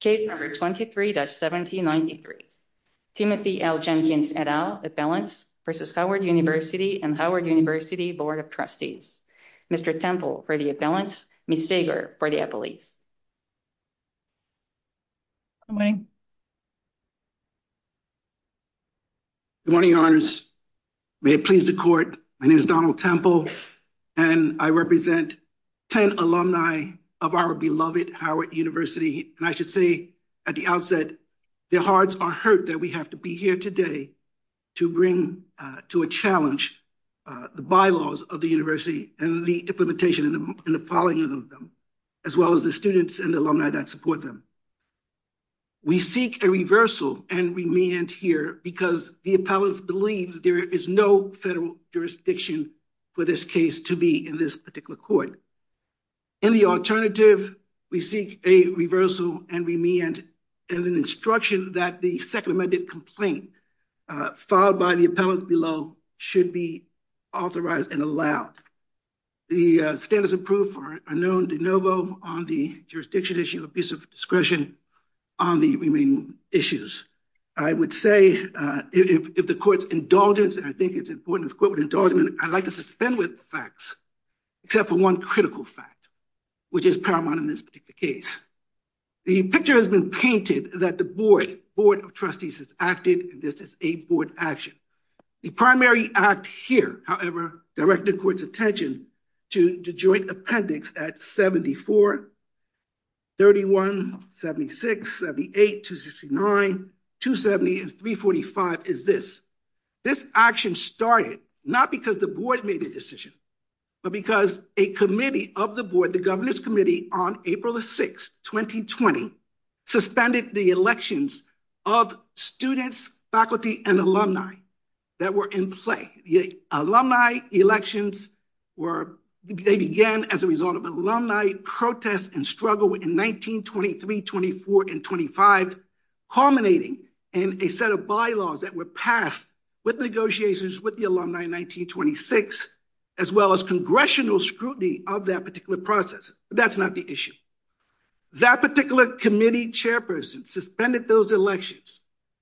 Case number 23-1793. Timothy L. Jenkins et al. Appellants v. Howard University and Howard University Board of Trustees. Mr. Temple for the Appellants, Ms. Sager for the Appellees. Good morning. Good morning, your honors. May it please the court. My name is Donald Temple and I represent 10 alumni of our beloved Howard University. And I should say at the outset, their hearts are hurt that we have to be here today to bring to a challenge the bylaws of the university and the implementation and the following of them, as well as the students and the alumni that support them. We seek a reversal and remand here because the appellants believe there is no federal jurisdiction for this case to be in this particular court. In the alternative, we seek a reversal and remand and an instruction that the second amended complaint filed by the appellant below should be authorized and allowed. The stand is approved for a known de novo on the jurisdiction issue of abuse of discretion on the remaining issues. I would say if the court's indulgence, and I think it's important to quote with indulgence, I'd like to suspend with facts, except for one critical fact, which is paramount in this particular case. The picture has been painted that the board of trustees has acted. This is a board action. The primary act here, however, directed court's attention to the joint appendix at 74, 31, 76, 78, 269, 270, and 345 is this. This action started not because the board made a decision, but because a committee of the board, the governor's committee on April the 6th, 2020, suspended the elections of students, faculty, and alumni that were in play. The alumni elections were, they began as a result of alumni protests and struggle in 1923, 24, and 25, culminating in a set of bylaws that were passed with negotiations with the alumni in 1926, as well as congressional scrutiny of that particular process. That's not the issue. That particular committee chairperson suspended those elections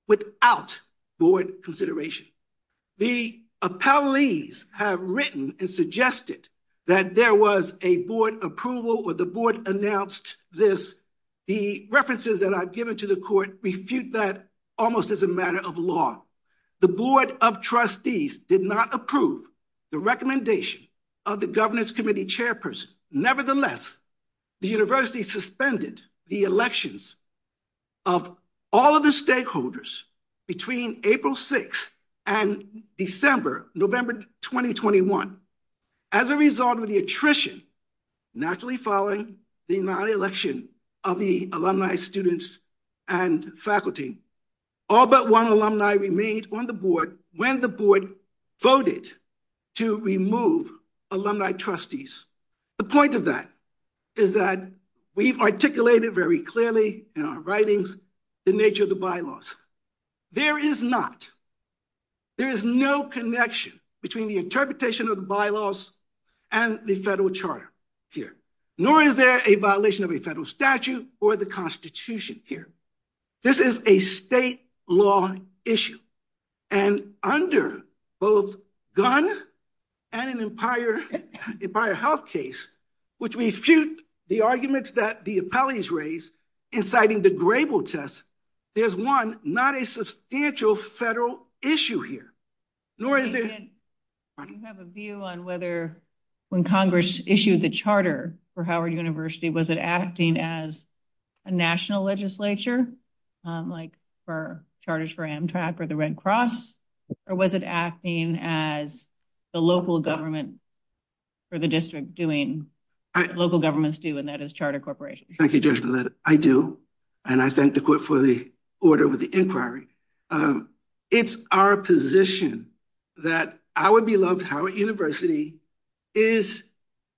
without board consideration. The appellees have written and suggested that there was a board approval or the board announced this. The references that I've given to the court refute that almost as a matter of law. The board of trustees did not approve the recommendation of the governance committee chairperson. Nevertheless, the university suspended the elections of all of the stakeholders between April 6th and December, November, 2021. As a result of the attrition, naturally following the non-election of the alumni students and faculty, all but one alumni remained on the board when the board voted to remove alumni trustees. The point of that is that we've articulated very clearly in our writings the nature of the bylaws. There is not, there is no connection between the interpretation of the bylaws and the federal charter here, nor is there a violation of a federal statute or the constitution here. This is a state law issue. And under both Gunn and an Empire Health case, which refute the arguments that the appellees raised inciting the Grable test, there's one not a substantial federal issue here. Do you have a view on whether when Congress issued the charter for Howard University, was it acting as a national legislature, like for charters for Amtrak or the Red Cross, or was it acting as the local government for the district doing local governments do and that is charter corporations? Thank you, Judge Millett. I do. And I thank the court for the order with the inquiry. It's our position that our beloved Howard University is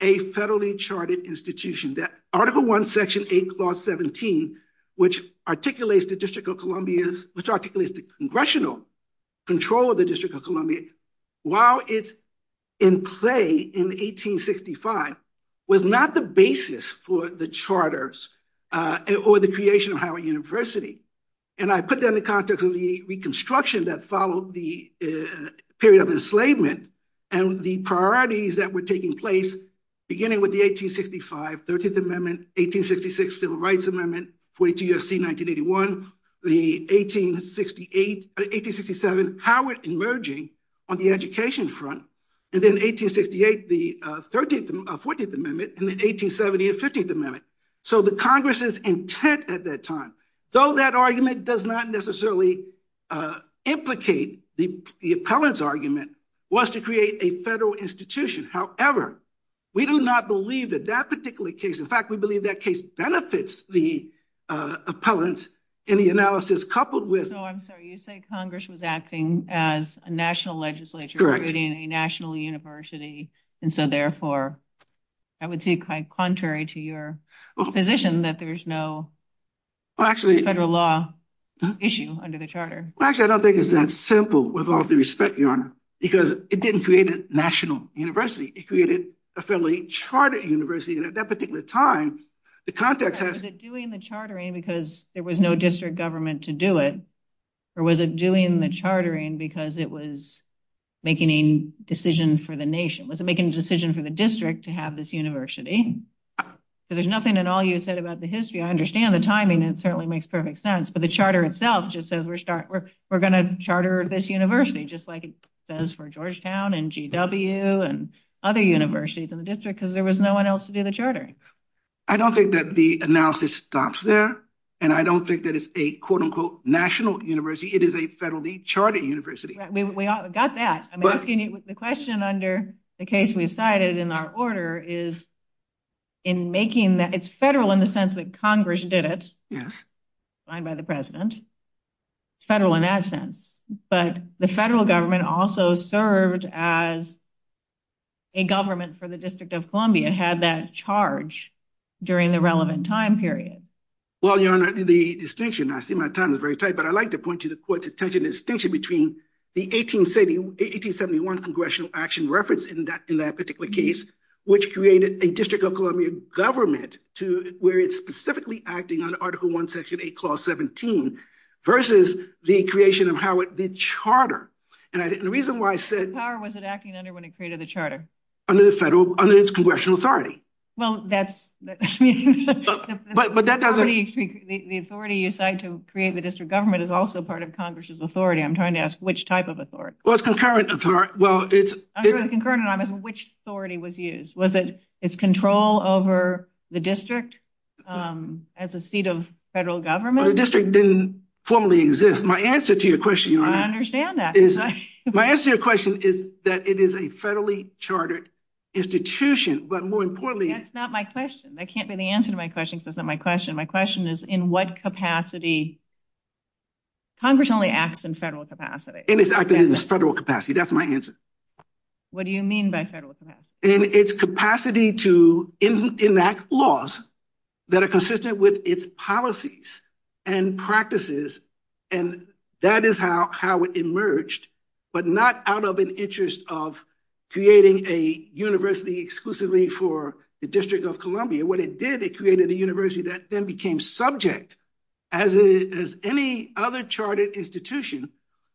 a federally charted institution. Article 1, Section 8, Clause 17, which articulates the District of Columbia's, which articulates the congressional control of the District of Columbia, while it's in play in 1865, was not the basis for the charters or the creation of Howard University. And I put that in the context of the reconstruction that followed the period of enslavement and the priorities that were taking place, beginning with the 1865 13th Amendment, 1866 Civil Rights Amendment, 42 U.S.C. 1981, the 1867 Howard emerging on the education front, and then 1868, the 14th Amendment, and then 1870, the 15th Amendment. So the Congress's intent at that time, though that argument does not necessarily implicate the appellant's argument, was to create a federal institution. However, we do not believe that that particular case, in fact, we believe that case benefits the appellant in the analysis coupled with... Oh, I'm sorry. You say Congress was acting as a national legislature, creating a national university. And so, therefore, I would say quite contrary to your position that there's no federal law issue under the charter. Well, actually, I don't think it's that simple, with all due respect, Your Honor, because it didn't create a national university. It created a federally charted university. And at that particular time, the context has... Was it doing the chartering because there was no district government to do it? Or was it doing the chartering because it was making a decision for the nation? Was it making a decision for the district to have this university? Because there's nothing in all you said about the history. I understand the timing. It certainly makes perfect sense. But the charter itself just says we're going to charter this university, just like it says for Georgetown and GW and other universities in the district, because there was no one else to do the chartering. I don't think that the analysis stops there. And I don't think that it's a, quote, unquote, national university. It is a federally charted university. We got that. The question under the case we cited in our order is, it's federal in the sense that Congress did it, signed by the president. It's federal in that sense. But the federal government also served as a government for the District of Columbia, had that charge during the relevant time period. Well, Your Honor, the distinction, I see my time is very tight, but I'd like to point to the court's attention to the distinction between the 1871 congressional action reference in that particular case, which created a District of Columbia government where it's specifically acting under Article I, Section 8, Clause 17, versus the creation of how it did charter. And the reason why I said... What power was it acting under when it created the charter? Under the federal, under its congressional authority. Well, that's... The authority you cite to create the district government is also part of Congress's authority. I'm trying to ask which type of authority. Well, it's concurrent authority. Well, it's... I'm trying to ask which authority was used. Was it its control over the district as a seat of federal government? The district didn't formally exist. My answer to your question, Your Honor... I understand that. My answer to your question is that it is a federally chartered institution, but more importantly... That's not my question. That can't be the answer to my question because that's not my question. My question is, in what capacity... Congress only acts in federal capacity. And it's acting in its federal capacity. That's my answer. What do you mean by federal capacity? In its capacity to enact laws that are consistent with its policies and practices. And that is how it emerged, but not out of an interest of creating a university exclusively for the District of Columbia. What it did, it created a university that then became subject, as any other chartered institution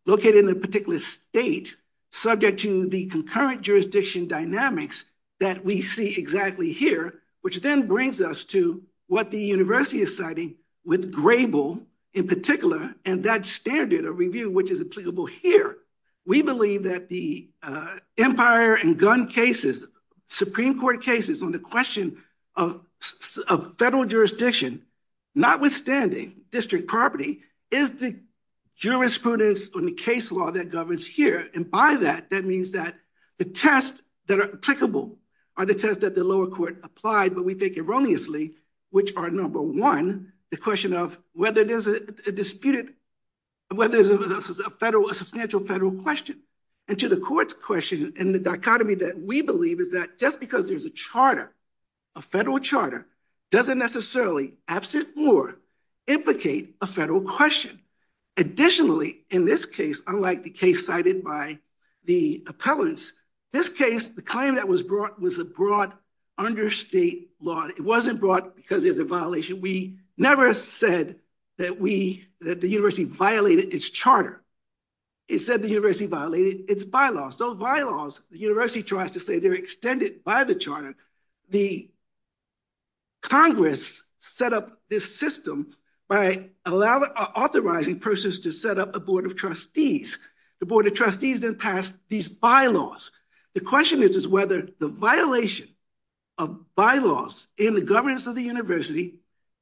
located in a particular state... Subject to the concurrent jurisdiction dynamics that we see exactly here. Which then brings us to what the university is citing with Grable in particular. And that standard of review, which is applicable here. We believe that the empire and gun cases, Supreme Court cases on the question of federal jurisdiction... Notwithstanding, district property is the jurisprudence on the case law that governs here. And by that, that means that the tests that are applicable are the tests that the lower court applied. But we think erroneously, which are number one, the question of whether there's a disputed... Whether there's a substantial federal question. And to the court's question and the dichotomy that we believe is that just because there's a charter... Doesn't necessarily, absent more, implicate a federal question. Additionally, in this case, unlike the case cited by the appellants, this case, the claim that was brought was a broad understate law. It wasn't brought because there's a violation. We never said that the university violated its charter. It said the university violated its bylaws. Those bylaws, the university tries to say they're extended by the charter. The Congress set up this system by authorizing persons to set up a board of trustees. The board of trustees then passed these bylaws. The question is whether the violation of bylaws in the governance of the university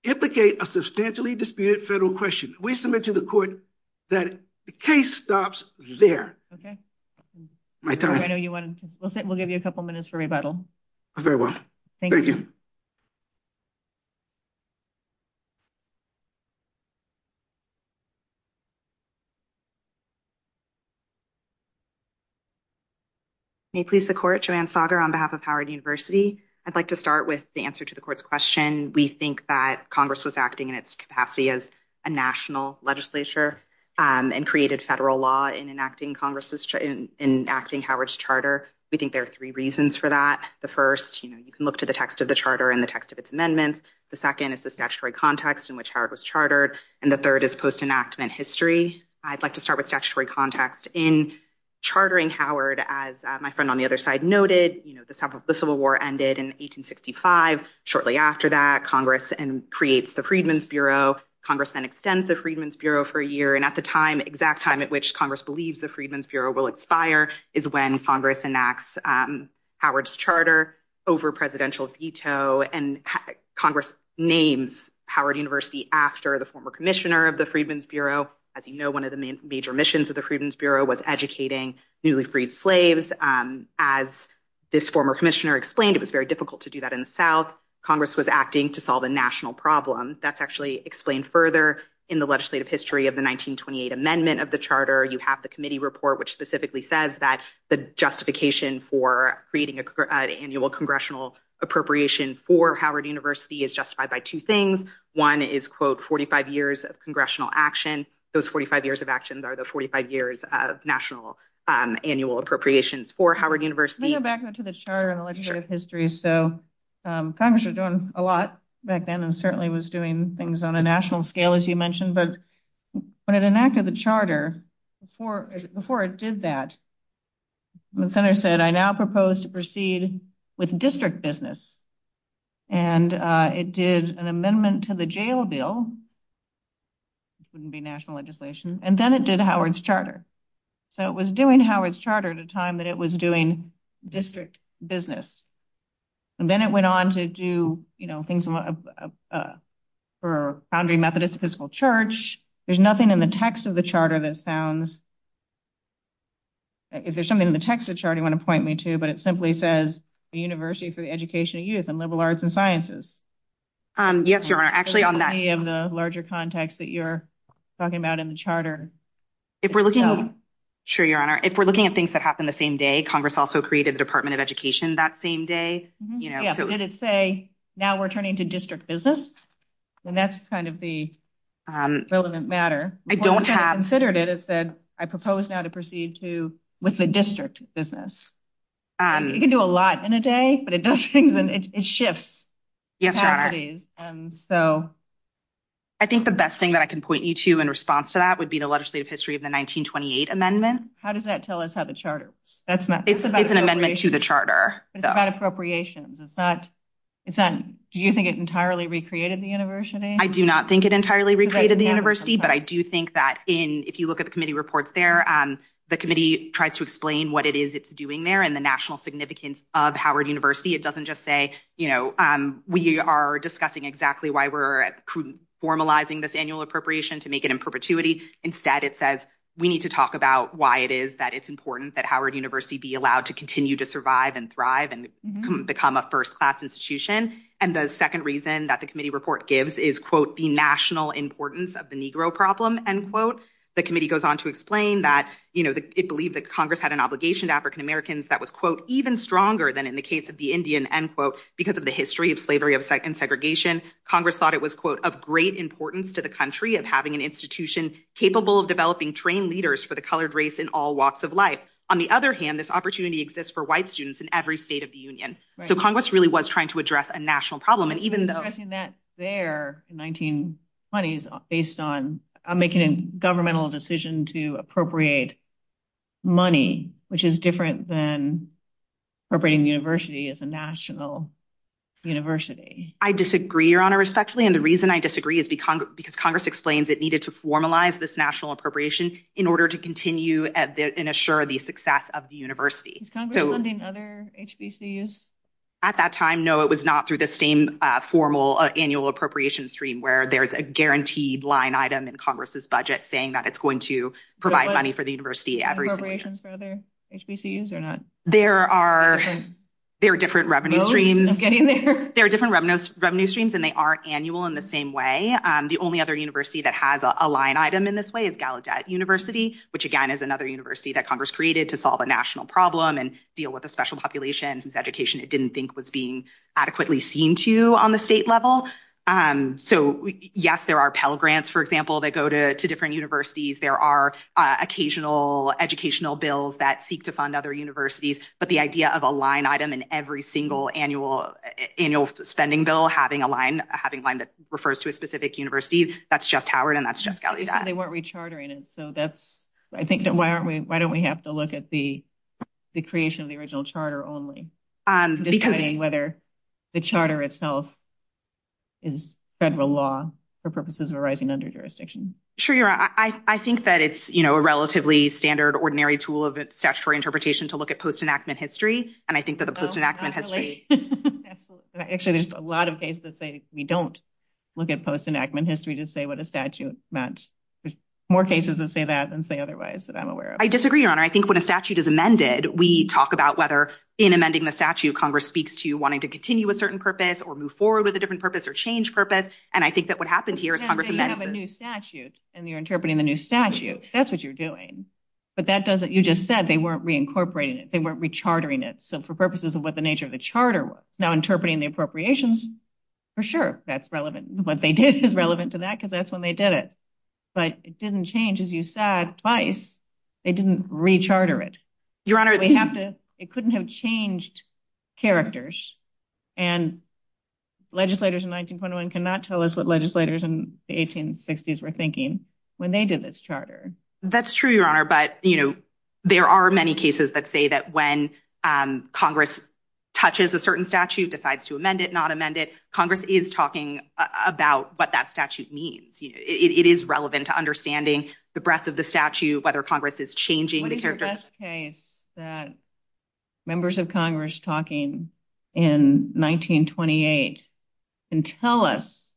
implicate a substantially disputed federal question. We submit to the court that the case stops there. My time. We'll give you a couple minutes for rebuttal. Very well. Thank you. May it please the court, Joanne Sager on behalf of Howard University. I'd like to start with the answer to the court's question. We think that Congress was acting in its capacity as a national legislature and created federal law in enacting Congress's in enacting Howard's charter. We think there are three reasons for that. The first, you can look to the text of the charter and the text of its amendments. The second is the statutory context in which Howard was chartered. And the third is post enactment history. I'd like to start with statutory context in chartering Howard, as my friend on the other side noted. The Civil War ended in 1865. Shortly after that, Congress and creates the Freedmen's Bureau. Congress then extends the Freedmen's Bureau for a year. And at the time, exact time at which Congress believes the Freedmen's Bureau will expire is when Congress enacts Howard's charter over presidential veto. And Congress names Howard University after the former commissioner of the Freedmen's Bureau. As you know, one of the major missions of the Freedmen's Bureau was educating newly freed slaves. As this former commissioner explained, it was very difficult to do that in the South. Congress was acting to solve a national problem. That's actually explained further in the legislative history of the 1928 amendment of the charter. You have the committee report, which specifically says that the justification for creating an annual congressional appropriation for Howard University is justified by two things. One is, quote, 45 years of congressional action. Those 45 years of actions are the 45 years of national annual appropriations for Howard University. Back to the charter and the legislative history. So Congress are doing a lot back then and certainly was doing things on a national scale, as you mentioned. But when it enacted the charter for before it did that. Senator said, I now propose to proceed with district business. And it did an amendment to the jail bill. Wouldn't be national legislation. And then it did Howard's charter. So it was doing Howard's charter at a time that it was doing district business. And then it went on to do things for Foundry Methodist Episcopal Church. There's nothing in the text of the charter that sounds. If there's something in the text of the chart you want to point me to, but it simply says the University for the Education of Youth and Liberal Arts and Sciences. Yes, your honor. Actually, on that of the larger context that you're talking about in the charter. Sure, your honor. If we're looking at things that happened the same day, Congress also created the Department of Education that same day. Did it say now we're turning to district business? And that's kind of the relevant matter. I don't have considered it. It said, I propose now to proceed to with the district business. You can do a lot in a day, but it does things and it shifts. Yes, your honor. I think the best thing that I can point you to in response to that would be the legislative history of the 1928 amendment. How does that tell us how the charter works? It's an amendment to the charter. It's about appropriations. Do you think it entirely recreated the university? I do not think it entirely recreated the university, but I do think that if you look at the committee reports there, the committee tries to explain what it is it's doing there and the national significance of Howard University. It doesn't just say, you know, we are discussing exactly why we're formalizing this annual appropriation to make it in perpetuity. Instead, it says we need to talk about why it is that it's important that Howard University be allowed to continue to survive and thrive and become a first class institution. And the second reason that the committee report gives is, quote, the national importance of the Negro problem. The committee goes on to explain that it believed that Congress had an obligation to African-Americans that was, quote, even stronger than in the case of the Indian, end quote, because of the history of slavery and segregation. Congress thought it was, quote, of great importance to the country of having an institution capable of developing trained leaders for the colored race in all walks of life. On the other hand, this opportunity exists for white students in every state of the union. So Congress really was trying to address a national problem. And even though that there in 1920s, based on making a governmental decision to appropriate money, which is different than appropriating the university as a national university. I disagree, Your Honor, respectfully. And the reason I disagree is because Congress explains it needed to formalize this national appropriation in order to continue and assure the success of the university. Is Congress funding other HBCUs? At that time, no, it was not through the same formal annual appropriation stream where there's a guaranteed line item in Congress's budget saying that it's going to provide money for the university every single year. Was there appropriations for other HBCUs or not? There are different revenue streams. I'm getting there. There are different revenue streams and they aren't annual in the same way. The only other university that has a line item in this way is Gallaudet University, which, again, is another university that Congress created to solve a national problem and deal with a special population whose education it didn't think was being adequately seen to you on the state level. So, yes, there are Pell Grants, for example, that go to different universities. There are occasional educational bills that seek to fund other universities. But the idea of a line item in every single annual spending bill having a line that refers to a specific university, that's just Howard and that's just Gallaudet. You said they weren't rechartering it, so that's, I think, why don't we have to look at the creation of the original charter only? Because... Whether the charter itself is federal law for purposes of arising under jurisdiction. Sure, you're right. I think that it's a relatively standard, ordinary tool of statutory interpretation to look at post-enactment history. And I think that the post-enactment history... Actually, there's a lot of cases that say we don't look at post-enactment history to say what a statute meant. There's more cases that say that than say otherwise that I'm aware of. I disagree, Your Honor. I think when a statute is amended, we talk about whether in amending the statute, Congress speaks to wanting to continue a certain purpose or move forward with a different purpose or change purpose. And I think that what happened here is Congress amended it. You have a new statute and you're interpreting the new statute. That's what you're doing. But that doesn't... You just said they weren't reincorporating it. They weren't rechartering it. So, for purposes of what the nature of the charter was. Now, interpreting the appropriations, for sure, that's relevant. What they did is relevant to that because that's when they did it. But it didn't change, as you said, twice. They didn't recharter it. Your Honor... It couldn't have changed characters. And legislators in 1921 cannot tell us what legislators in the 1860s were thinking when they did this charter. That's true, Your Honor. But, you know, there are many cases that say that when Congress touches a certain statute, decides to amend it, not amend it, Congress is talking about what that statute means. It is relevant to understanding the breadth of the statute, whether Congress is changing the character. What's the best case that members of Congress talking in 1928 can tell us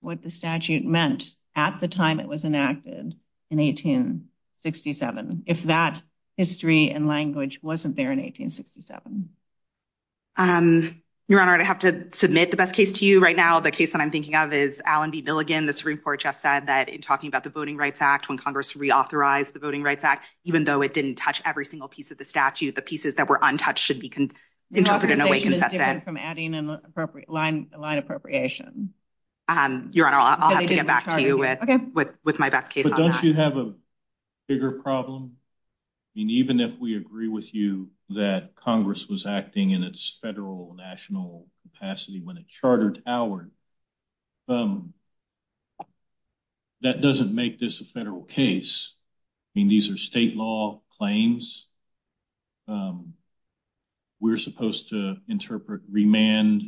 what the statute meant at the time it was enacted in 1867, if that history and language wasn't there in 1867? Your Honor, I'd have to submit the best case to you right now. The case that I'm thinking of is Allen v. Milligan. The Supreme Court just said that in talking about the Voting Rights Act, when Congress reauthorized the Voting Rights Act, even though it didn't touch every single piece of the statute, the pieces that were untouched should be interpreted in a way consistent. The conversation is different from adding line appropriation. Your Honor, I'll have to get back to you with my best case on that. But don't you have a bigger problem? Even if we agree with you that Congress was acting in its federal national capacity when it chartered Howard, that doesn't make this a federal case. I mean, these are state law claims. We're supposed to interpret remand,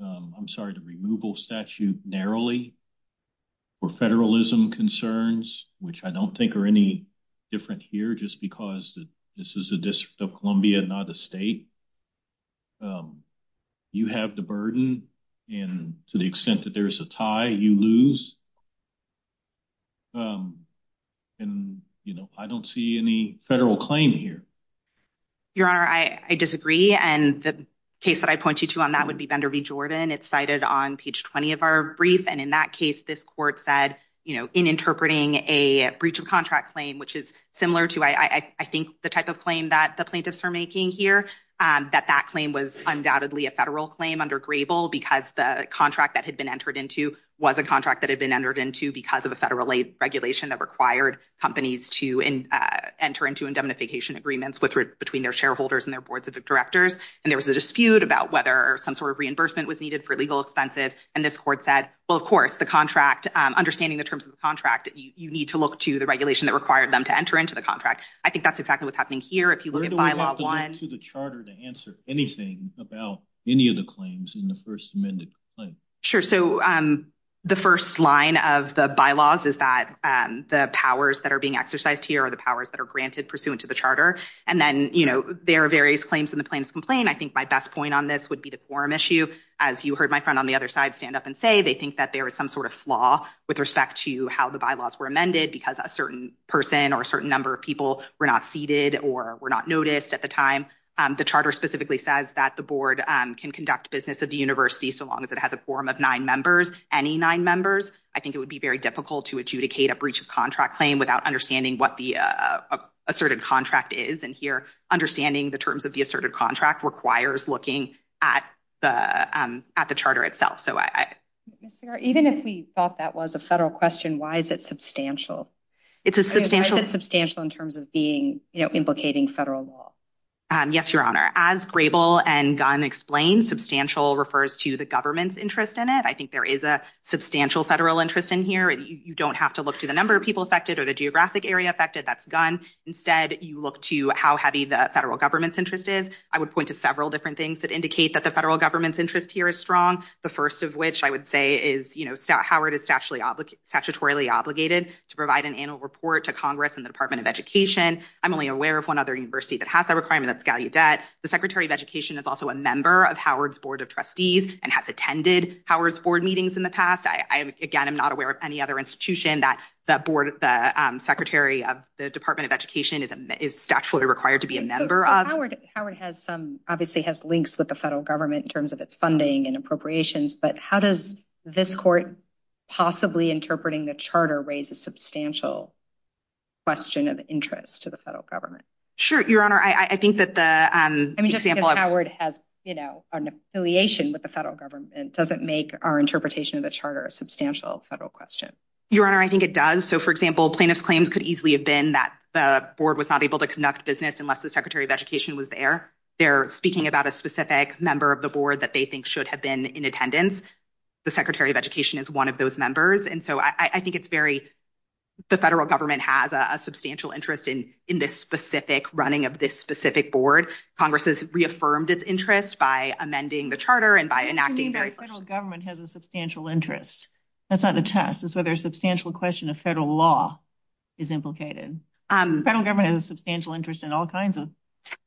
I'm sorry, the removal statute narrowly for federalism concerns, which I don't think are any different here just because this is a District of Columbia, not a state. You have the burden, and to the extent that there's a tie, you lose. And I don't see any federal claim here. Your Honor, I disagree. And the case that I point you to on that would be Bender v. Jordan. It's cited on page 20 of our brief. And in that case, this court said, you know, in interpreting a breach of contract claim, which is similar to, I think, the type of claim that the plaintiffs are making here, that that claim was undoubtedly a federal claim under Grable because the contract that had been entered into was a contract that had been entered into because of a federal regulation that required companies to enter into indemnification agreements between their shareholders and their boards of directors. And there was a dispute about whether some sort of reimbursement was needed for legal expenses. And this court said, well, of course, the contract, understanding the terms of the contract, you need to look to the regulation that required them to enter into the contract. I think that's exactly what's happening here. If you look at Bylaw 1. Where do we have to go to the charter to answer anything about any of the claims in the first amended claim? Sure. So the first line of the bylaws is that the powers that are being exercised here are the powers that are granted pursuant to the charter. And then, you know, there are various claims in the plaintiff's complaint. I think my best point on this would be the quorum issue. As you heard my friend on the other side stand up and say they think that there is some sort of flaw with respect to how the bylaws were amended because a certain person or a certain number of people were not seated or were not noticed at the time. The charter specifically says that the board can conduct business of the university so long as it has a quorum of nine members, any nine members. I think it would be very difficult to adjudicate a breach of contract claim without understanding what the asserted contract is. And here, understanding the terms of the asserted contract requires looking at the at the charter itself. So even if we thought that was a federal question, why is it substantial? It's a substantial substantial in terms of being implicating federal law. Yes, Your Honor. As Grable and Gunn explained, substantial refers to the government's interest in it. I think there is a substantial federal interest in here. You don't have to look to the number of people affected or the geographic area affected. That's Gunn. Instead, you look to how heavy the federal government's interest is. I would point to several different things that indicate that the federal government's interest here is strong. The first of which I would say is, you know, Howard is statutorily obligated to provide an annual report to Congress and the Department of Education. I'm only aware of one other university that has that requirement. That's Gallaudet. The Secretary of Education is also a member of Howard's board of trustees and has attended Howard's board meetings in the past. I, again, am not aware of any other institution that that board, the secretary of the Department of Education, is statutorily required to be a member of. Howard has some obviously has links with the federal government in terms of its funding and appropriations. But how does this court possibly interpreting the charter raise a substantial question of interest to the federal government? Sure. Your Honor, I think that the example of Howard has, you know, an affiliation with the federal government doesn't make our interpretation of the charter a substantial federal question. Your Honor, I think it does. So, for example, plaintiff's claims could easily have been that the board was not able to conduct business unless the secretary of education was there. They're speaking about a specific member of the board that they think should have been in attendance. The secretary of education is one of those members. And so I think it's very the federal government has a substantial interest in in this specific running of this specific board. Congress has reaffirmed its interest by amending the charter and by enacting very federal government has a substantial interest. That's not the test is whether a substantial question of federal law is implicated. Federal government has a substantial interest in all kinds of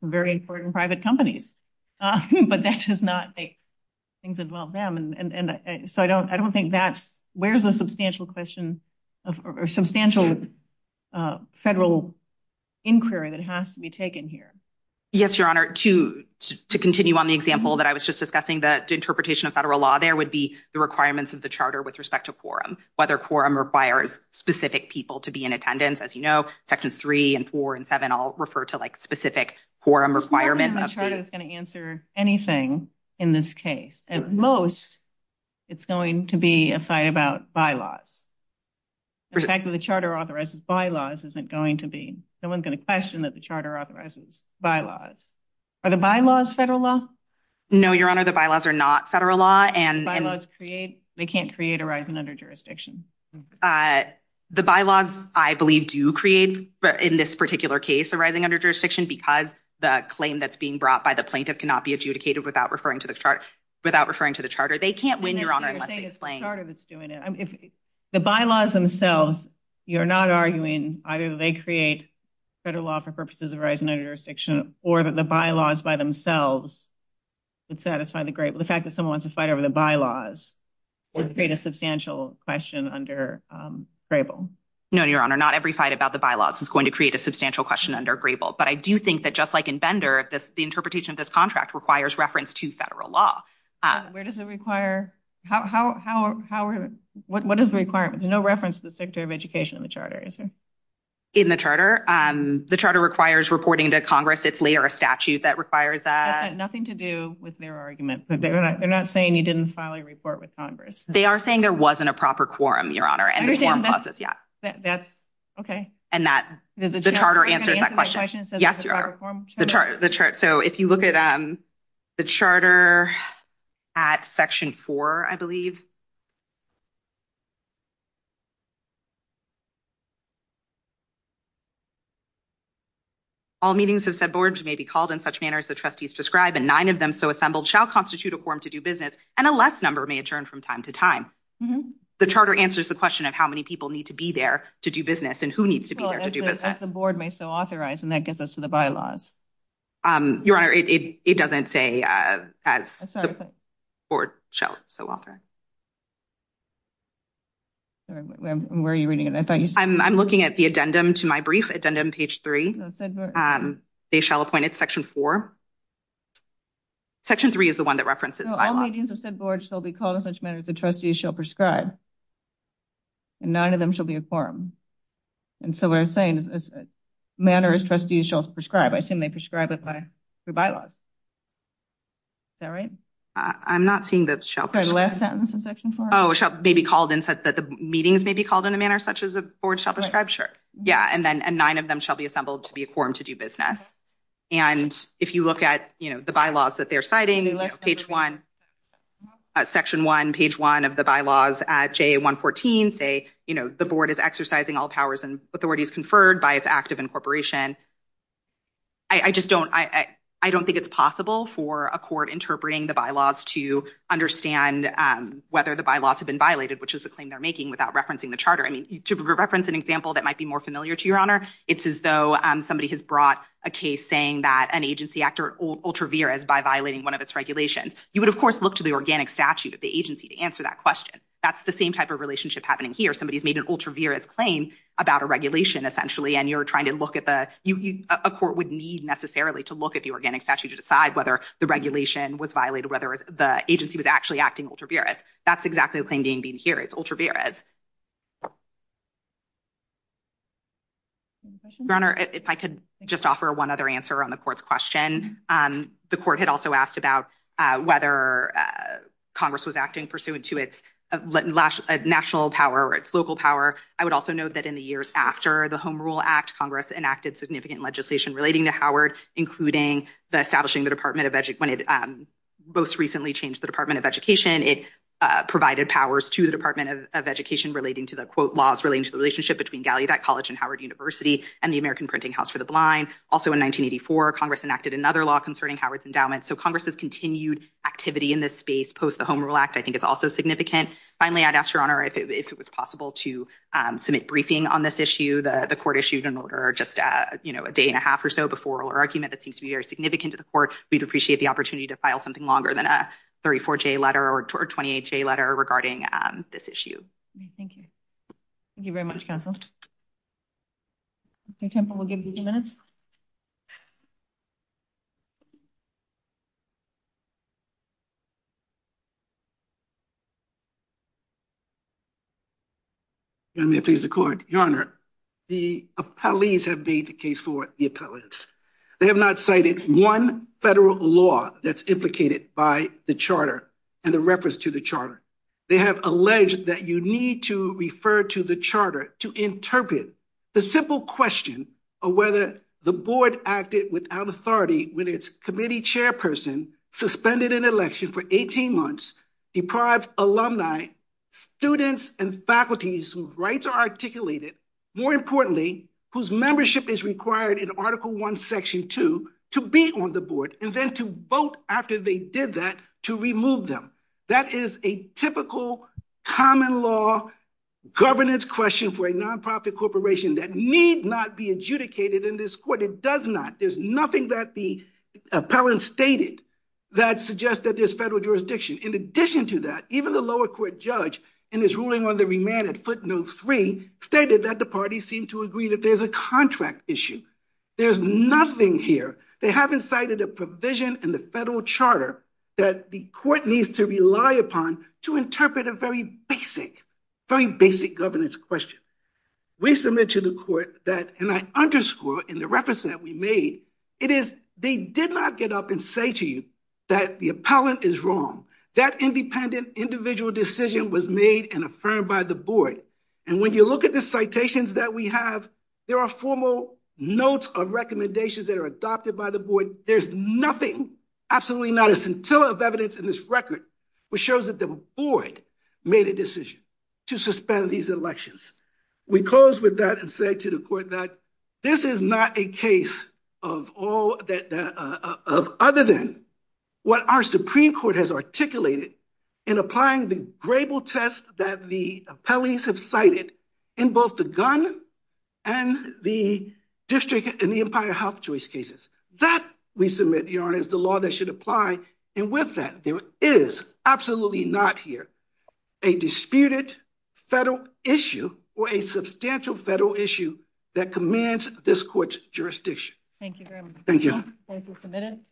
very important private companies. But that does not make things as well them. And so I don't I don't think that's where's a substantial question of substantial federal inquiry that has to be taken here. Yes, Your Honor, to to continue on the example that I was just discussing that interpretation of federal law, there would be the requirements of the charter with respect to quorum, whether quorum requires specific people to be in attendance. As you know, sections three and four and seven all refer to like specific quorum requirements of the charter is going to answer anything in this case. At most, it's going to be a fight about bylaws. The fact that the charter authorizes bylaws isn't going to be no one's going to question that the charter authorizes bylaws or the bylaws federal law. No, Your Honor, the bylaws are not federal law and bylaws create they can't create a rising under jurisdiction. The bylaws, I believe, do create in this particular case a rising under jurisdiction because the claim that's being brought by the plaintiff cannot be adjudicated without referring to the chart without referring to the charter. They can't win. Your Honor, let's explain. The bylaws themselves, you're not arguing either they create federal law for purposes of rising under jurisdiction or that the bylaws by themselves would satisfy the great. The fact that someone wants to fight over the bylaws would create a substantial question under grable. No, Your Honor, not every fight about the bylaws is going to create a substantial question under grable. But I do think that just like in Bender, the interpretation of this contract requires reference to federal law. Where does it require? How? How? How? What is the requirement? No reference to the secretary of education of the charter. In the charter, the charter requires reporting to Congress. It's later a statute that requires that nothing to do with their argument. They're not saying you didn't file a report with Congress. They are saying there wasn't a proper quorum, Your Honor. That's OK. And that the charter answers that question. Yes, Your Honor. The chart. So if you look at the charter at Section four, I believe. All meetings of said boards may be called in such manner as the trustees prescribe and nine of them so assembled shall constitute a quorum to do business and a less number may adjourn from time to time. The charter answers the question of how many people need to be there to do business and who needs to be there to do that. That's the board may so authorize. And that gets us to the bylaws. Your Honor, it doesn't say as the board shall so author. Where are you reading it? I thought I'm looking at the addendum to my brief addendum. Page three said they shall appoint it. Section four. Section three is the one that references. All meetings of said boards shall be called in such manner as the trustees shall prescribe. And nine of them shall be a quorum. And so what I'm saying is manner as trustees shall prescribe. I assume they prescribe it by the bylaws. Is that right? I'm not seeing the last sentence in Section four. Oh, it may be called and said that the meetings may be called in a manner such as a board shall prescribe. Sure. Yeah. And then nine of them shall be assembled to be a quorum to do business. And if you look at, you know, the bylaws that they're citing page one. Section one, page one of the bylaws at J. One fourteen say, you know, the board is exercising all powers and authorities conferred by its active incorporation. I just don't I don't think it's possible for a court interpreting the bylaws to understand whether the bylaws have been violated, which is the claim they're making without referencing the charter. I mean, to reference an example that might be more familiar to your honor, it's as though somebody has brought a case saying that an agency actor ultraviarious by violating one of its regulations. You would, of course, look to the organic statute at the agency to answer that question. That's the same type of relationship happening here. Somebody has made an ultraviarious claim about a regulation, essentially. And you're trying to look at the court would need necessarily to look at the organic statute to decide whether the regulation was violated, whether the agency was actually acting ultraviarious. That's exactly the claim being being here. It's ultraviarious. Your honor, if I could just offer one other answer on the court's question. The court had also asked about whether Congress was acting pursuant to its national power or its local power. I would also note that in the years after the Home Rule Act, Congress enacted significant legislation relating to Howard, including the establishing the Department of Education. When it most recently changed the Department of Education, it provided powers to the Department of Education relating to the, quote, laws relating to the relationship between Gallaudet College and Howard University and the American Printing House for the Blind. Also, in 1984, Congress enacted another law concerning Howard's endowment. So Congress's continued activity in this space post the Home Rule Act, I think, is also significant. Finally, I'd ask your honor if it was possible to submit briefing on this issue. The court issued an order just a day and a half or so before our argument that seems to be very significant to the court. We'd appreciate the opportunity to file something longer than a 34-J letter or 28-J letter regarding this issue. Thank you. Thank you very much, counsel. Mr. Temple, we'll give you a few minutes. Your Honor, the appellees have made the case for the appellants. They have not cited one federal law that's implicated by the charter and the reference to the charter. They have alleged that you need to refer to the charter to interpret the simple question of whether the board acted without authority when its committee chairperson suspended an election for 18 months, deprived alumni, students, and faculties whose rights are articulated, more importantly, whose membership is required in Article I, Section 2, to be on the board, and then to vote after they did that to remove them. That is a typical common law governance question for a nonprofit corporation that need not be adjudicated in this court. It does not. There's nothing that the appellant stated that suggests that there's federal jurisdiction. In addition to that, even the lower court judge in his ruling on the remand at footnote 3 stated that the parties seem to agree that there's a contract issue. There's nothing here. They haven't cited a provision in the federal charter that the court needs to rely upon to interpret a very basic, very basic governance question. We submit to the court that, and I underscore in the reference that we made, it is they did not get up and say to you that the appellant is wrong. That independent individual decision was made and affirmed by the board. And when you look at the citations that we have, there are formal notes of recommendations that are adopted by the board. There's nothing, absolutely not a scintilla of evidence in this record, which shows that the board made a decision to suspend these elections. We close with that and say to the court that this is not a case of all that other than what our Supreme Court has articulated in applying the grable test that the appellees have cited in both the gun and the district and the Empire Health Choice cases. That, we submit, Your Honor, is the law that should apply. And with that, there is absolutely not here a disputed federal issue or a substantial federal issue that commands this court's jurisdiction. Thank you very much. Thank you. Thank you for submitting.